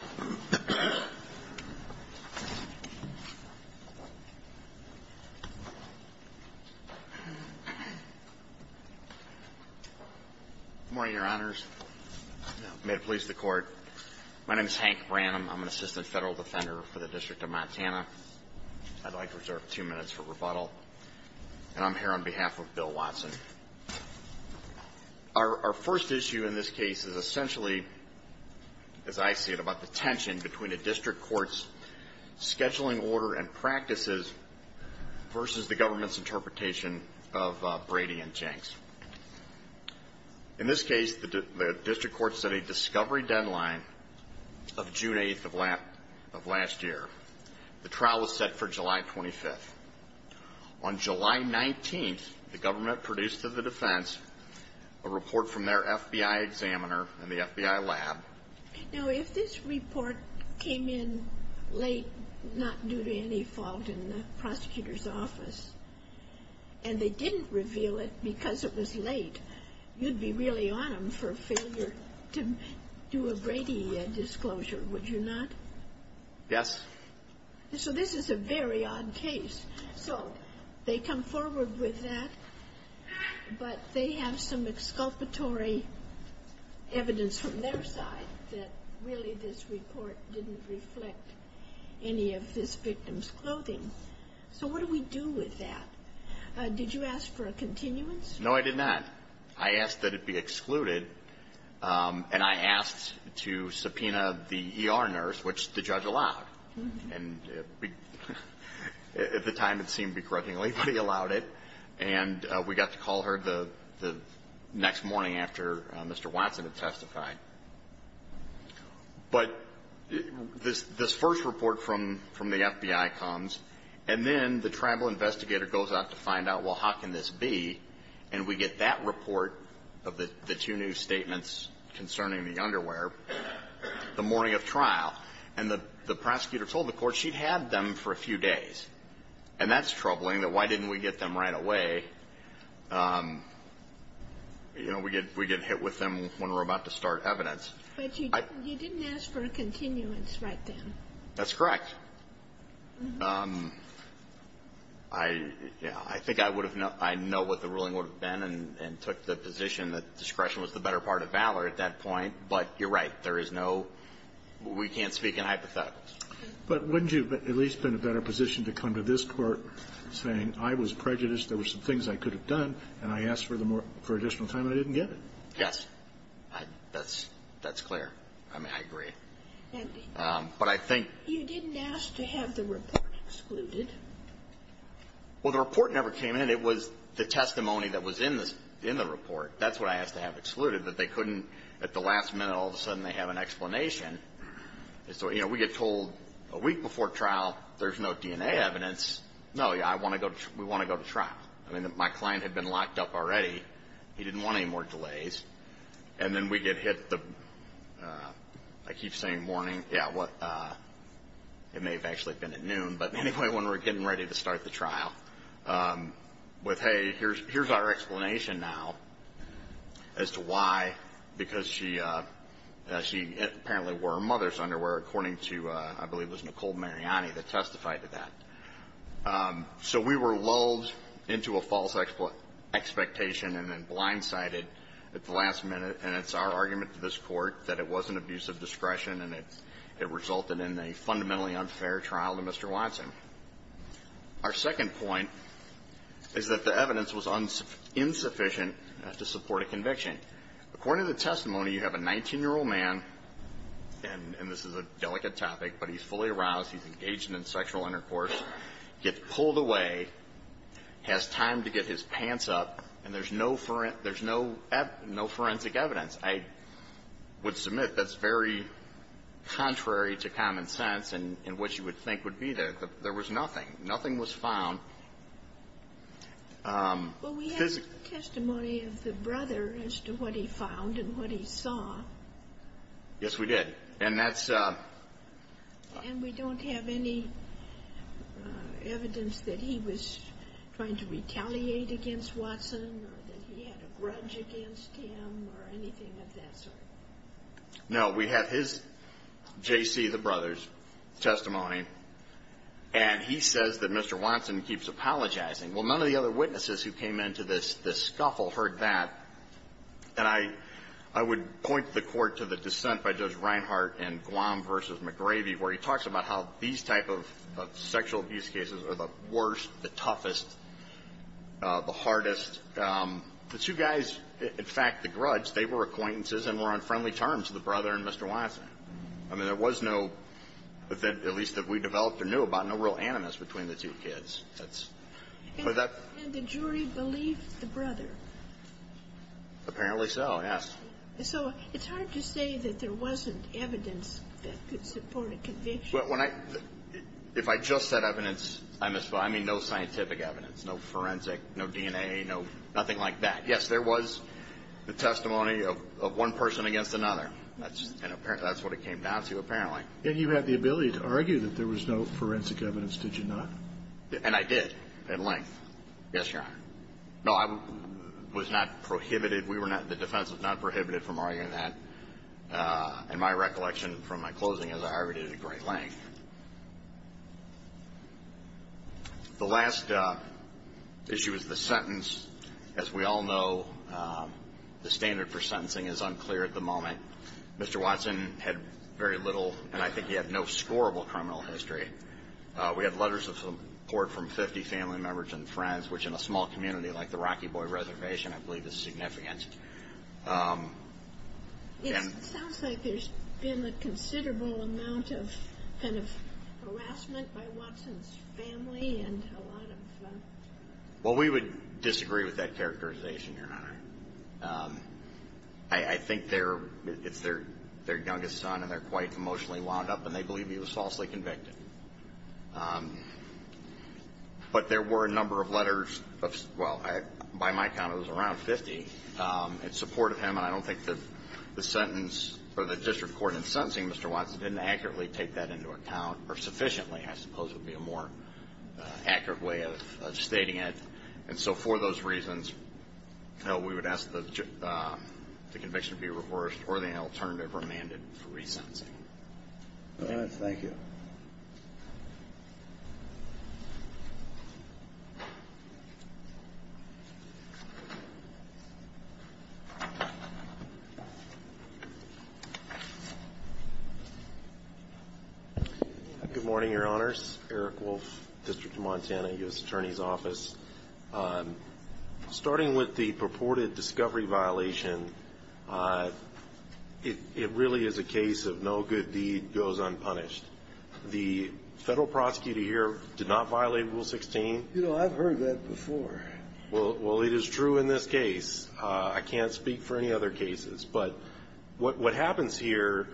Good morning, Your Honors. May it please the Court. My name is Hank Branham. I'm an Assistant Federal Defender for the District of Montana. I'd like to reserve two minutes for rebuttal. And I'm here on behalf of Bill Watson. Our first issue in this case is essentially, as I see it, about the tension between a district court's scheduling order and practices versus the government's interpretation of Brady and Jenks. In this case, the district court set a discovery deadline of June 8th of last year. The trial was set for July 25th. On July 19th, the government produced to the defense a report from their FBI examiner and the FBI lab. Now, if this report came in late, not due to any fault in the prosecutor's office, and they didn't reveal it because it was late, you'd be really on them for failure to do a Brady disclosure, would you not? Yes. So this is a very odd case. So they come forward with that, but they have some exculpatory evidence from their side that really this report didn't reflect any of this victim's clothing. So what do we do with that? Did you ask for a continuance? No, I did not. I asked that it be excluded, and I asked to subpoena the ER nurse, which the judge allowed. And at the time, it seemed to be credulity, but he allowed it. And we got to call her the next morning after Mr. Watson had testified. But this first report from the FBI comes, and then the tribal investigator goes out to find out, well, how can this be? And we get that report of the two new statements concerning the underwear the morning of trial. And the prosecutor told the court she'd had them for a few days. And that's troubling, that why didn't we get them right away? You know, we get hit with them when we're about to start evidence. But you didn't ask for a continuance right then? That's correct. I think I would have known, I know what the ruling would have been and took the position that discretion was the better part of valor at that point. But you're right. There is no, we can't speak in hypotheticals. But wouldn't you have at least been in a better position to come to this court saying, I was prejudiced, there were some things I could have done, and I asked for additional time, and I didn't get it? Yes. That's clear. I mean, I agree. But I think you didn't ask to have the report excluded. Well, the report never came in. It was the testimony that was in the report. That's what I asked to have excluded. But they couldn't, at the last minute, all of a sudden, they have an explanation. So, you know, we get told a week before trial, there's no DNA evidence. No, we want to go to trial. I mean, my client had been locked up already. He didn't want any more delays. And then we get hit, I keep saying morning, yeah, it may have actually been at noon. But anyway, when we're getting ready to start the trial, with, hey, here's our explanation now as to why, because she apparently wore her mother's underwear, according to, I believe it was Nicole Mariani that testified to that. So we were lulled into a false expectation and then blindsided at the last minute. And it's our argument to this court that it wasn't abuse of discretion, and it resulted in a fundamentally unfair trial to Mr. Watson. Our second point is that the evidence was insufficient to support a conviction. According to the testimony, you have a 19-year-old man, and this is a delicate topic, but he's fully aroused, he's engaged in sexual intercourse, gets pulled away, has time to get his pants up, and there's no forensic evidence. I would submit that's very contrary to common sense and what you would think would be there. There was nothing. Nothing was found. Because we have the testimony of the brother as to what he found and what he saw. Yes, we did. And that's And we don't have any evidence that he was trying to retaliate against Watson or that he had a grudge against him or anything of that sort. No, we have his, J.C., the brother's testimony, and he says that Mr. Watson keeps apologizing. Well, none of the other witnesses who came into this scuffle heard that. And I would point the court to the dissent by Judge Reinhart in Guam v. McGrady, where he talks about how these type of sexual abuse cases are the worst, the toughest, the hardest. The two guys, in fact, the grudge, they were acquaintances and were on friendly terms, the brother and Mr. Watson. I mean, there was no, at least that we developed or knew about, no real animus between the two kids. And the jury believed the brother? Apparently so, yes. So it's hard to say that there wasn't evidence that could support a conviction. Well, if I just said evidence, I mean, no scientific evidence, no forensic, no DNA, no nothing like that. Yes, there was the testimony of one person against another. That's what it came down to, apparently. And you had the ability to argue that there was no forensic evidence, did you not? And I did, at length. Yes, Your Honor. No, I was not prohibited. We were not, the defense was not prohibited from arguing that, in my recollection from my closing, as I argued it at great length. The last issue is the sentence. As we all know, the standard for sentencing is unclear at the moment. Mr. Watson had very little, and I think he had no scorable criminal history. We had letters of support from 50 family members and friends, which in a small community like the Rocky Boy Reservation, I believe is significant. It sounds like there's been a considerable amount of kind of harassment by Watson's family and a lot of... Well, we would disagree with that characterization, Your Honor. I think it's their youngest son, and they're quite emotionally wound up, and they believe he was falsely convicted. But there were a number of letters of... Well, by my count, it was around 50 in support of him, and I don't think that the sentence or the district court in sentencing Mr. Watson didn't accurately take that into account, or sufficiently, I suppose would be a more accurate way of stating it. And so for those reasons, no, we would ask the conviction be reversed or the alternative remanded for resentencing. All right. Thank you. Good morning, Your Honors. Eric Wolf, District of Montana, U.S. Attorney's Office. Starting with the purported discovery violation, it really is a case of no good deed goes unpunished. The federal prosecutor here did not violate Rule 16. You know, I've heard that before. Well, it is true in this case. I can't speak for any other cases. But what happens here,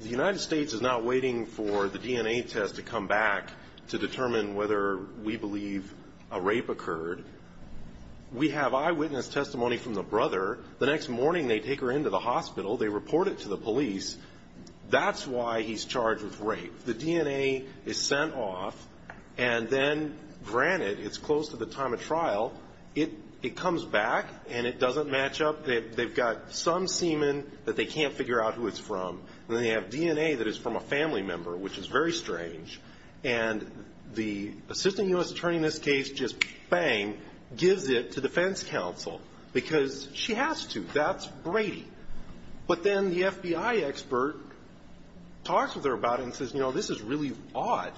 the United States is not waiting for the DNA test to come back to determine whether we believe a rape occurred. We have eyewitness testimony from the brother. The next morning, they take her into the hospital. They report it to the police. That's why he's charged with rape. The DNA is sent off. And then, granted, it's close to the time of trial. It comes back, and it doesn't match up. They've got some semen that they can't figure out who it's from. And they have DNA that is from a family member, which is very strange. And the assistant U.S. attorney in this case just, bang, gives it to defense counsel because she has to. That's Brady. But then the FBI expert talks with her about it and says, you know, this is really odd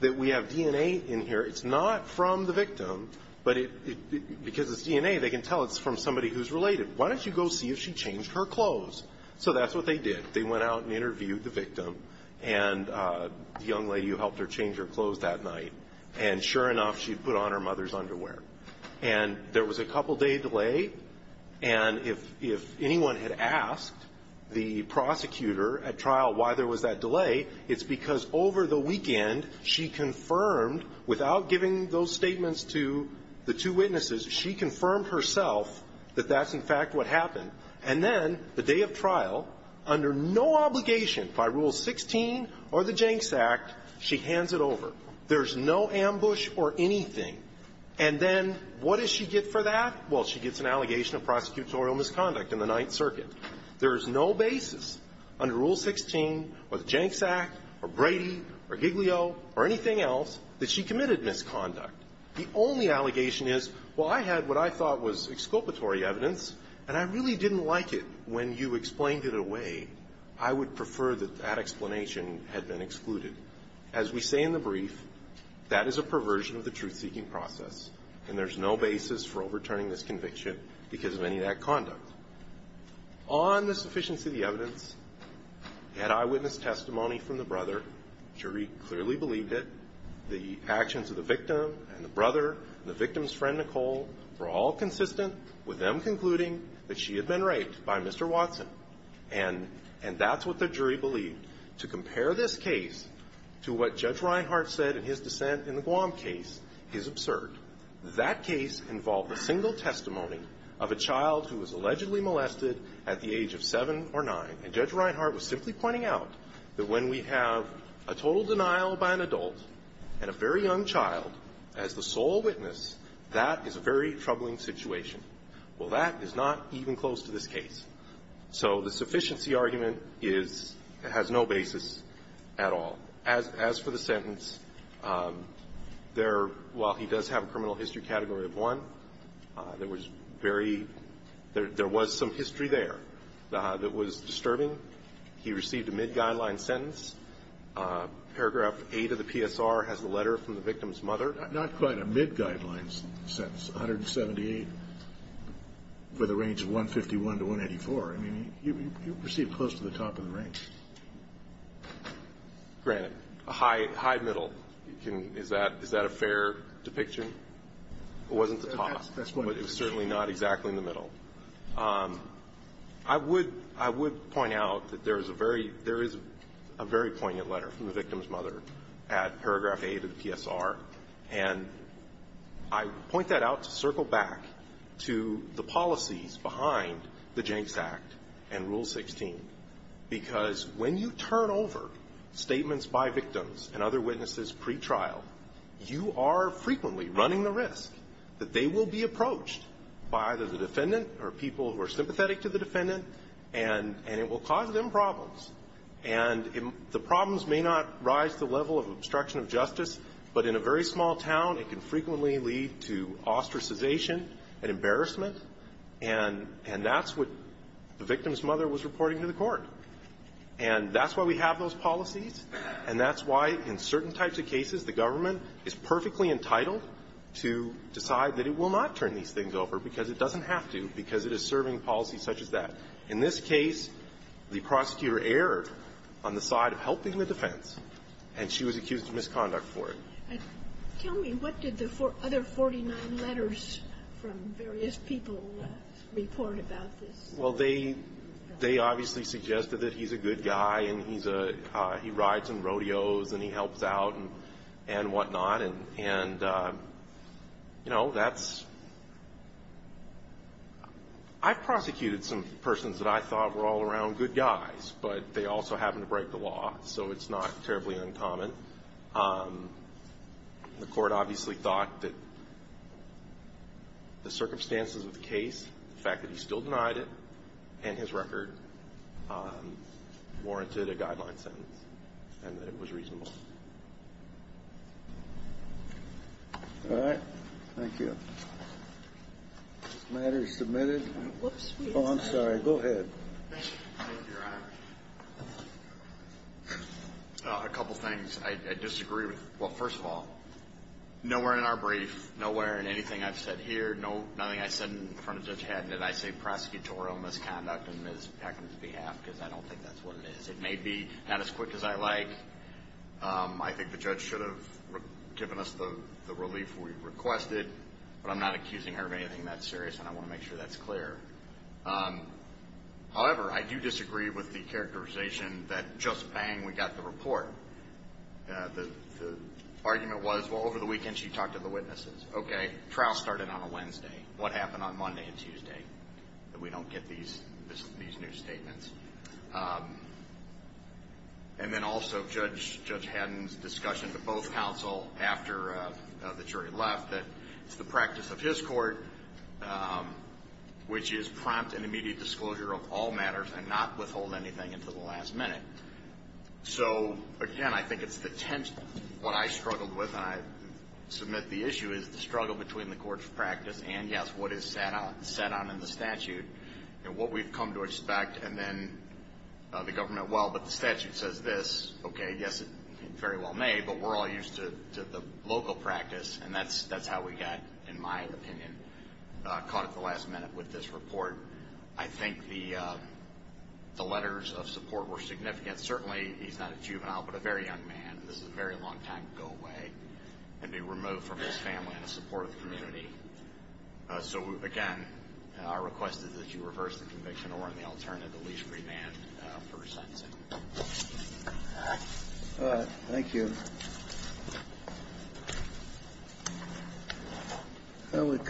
that we have DNA in here. It's not from the victim. But because it's DNA, they can tell it's from somebody who's related. Why don't you go see if she changed her clothes? So that's what they did. They went out and interviewed the victim. And the young lady who helped her change her clothes that night. And sure enough, she put on her mother's underwear. And there was a couple-day delay. And if anyone had asked the prosecutor at trial why there was that delay, it's because over the weekend she confirmed, without giving those statements to the two witnesses, she confirmed herself that that's, in fact, what happened. And then the day of trial, under no obligation by Rule 16 or the Jenks Act, she hands it over. There's no ambush or anything. And then what does she get for that? Well, she gets an allegation of prosecutorial misconduct in the Ninth Circuit. There is no basis under Rule 16 or the Jenks Act or Brady or Giglio or anything else that she committed misconduct. The only allegation is, well, I had what I thought was exculpatory evidence, and I really didn't like it when you explained it away. I would prefer that that explanation had been excluded. As we say in the brief, that is a perversion of the truth-seeking process. And there's no basis for overturning this conviction because of any of that conduct. On the sufficiency of the evidence, he had eyewitness testimony from the brother. The jury clearly believed it. The actions of the victim and the brother and the victim's friend, Nicole, were all consistent with them concluding that she had been raped by Mr. Watson. And that's what the jury believed. To compare this case to what Judge Reinhart said in his dissent in the Guam case is absurd. That case involved a single testimony of a child who was allegedly molested at the age of 7 or 9. And Judge Reinhart was simply pointing out that when we have a total denial by an adult and a very young child as the sole witness, that is a very troubling situation. Well, that is not even close to this case. So the sufficiency argument is – has no basis at all. As for the sentence, there – while he does have a criminal history category of 1, there was very – there was some history there that was disturbing. He received a mid-guideline sentence. Paragraph 8 of the PSR has the letter from the victim's mother. Not quite a mid-guideline sentence, 178 for the range of 151 to 184. I mean, you received close to the top of the range. Granted. A high middle. Is that a fair depiction? It wasn't the top, but it was certainly not exactly in the middle. I would – I would point out that there is a very – at paragraph 8 of the PSR. And I point that out to circle back to the policies behind the Jenks Act and Rule 16, because when you turn over statements by victims and other witnesses pretrial, you are frequently running the risk that they will be approached by either the defendant or people who are sympathetic to the defendant, and it will cause them problems. And the problems may not rise to the level of obstruction of justice, but in a very small town, it can frequently lead to ostracization and embarrassment. And that's what the victim's mother was reporting to the court. And that's why we have those policies, and that's why in certain types of cases the government is perfectly entitled to decide that it will not turn these things over, because it doesn't have to, because it is serving policies such as that. In this case, the prosecutor erred on the side of helping the defense, and she was accused of misconduct for it. Tell me, what did the other 49 letters from various people report about this? Well, they – they obviously suggested that he's a good guy and he's a – he rides on rodeos and he helps out and whatnot, and, you know, that's – I've prosecuted some persons that I thought were all around good guys, but they also happened to break the law, so it's not terribly uncommon. The court obviously thought that the circumstances of the case, the fact that he still denied it, and his record warranted a guideline sentence and that it was reasonable. All right. Thank you. This matter is submitted. Oh, I'm sorry. Go ahead. Your Honor, a couple things I disagree with. Well, first of all, nowhere in our brief, nowhere in anything I've said here, nothing I said in front of Judge Haddon did I say prosecutorial misconduct on Ms. Peckham's behalf, because I don't think that's what it is. It may be not as quick as I like. I think the judge should have given us the relief we requested, but I'm not accusing her of anything that serious, and I want to make sure that's clear. However, I do disagree with the characterization that just bang, we got the report. The argument was, well, over the weekend she talked to the witnesses. Okay. Trial started on a Wednesday. What happened on Monday and Tuesday that we don't get these new statements? And then also Judge Haddon's discussion to both counsel after the jury left that it's the practice of his court, which is prompt and immediate disclosure of all matters and not withhold anything until the last minute. So, again, I think it's the tense, what I struggled with, and I submit the issue is the struggle between the court's practice and, yes, what is set on in the statute, and what we've come to expect, and then the government, well, but the statute says this. Okay, yes, it's very well made, but we're all used to the local practice, and that's how we got, in my opinion, caught at the last minute with this report. I think the letters of support were significant. Certainly, he's not a juvenile, but a very young man. This is a very long time to go away and be removed from his family and in support of the community. So, again, our request is that you reverse the conviction or, in the alternative, at least remand for his sentencing. All right. Thank you.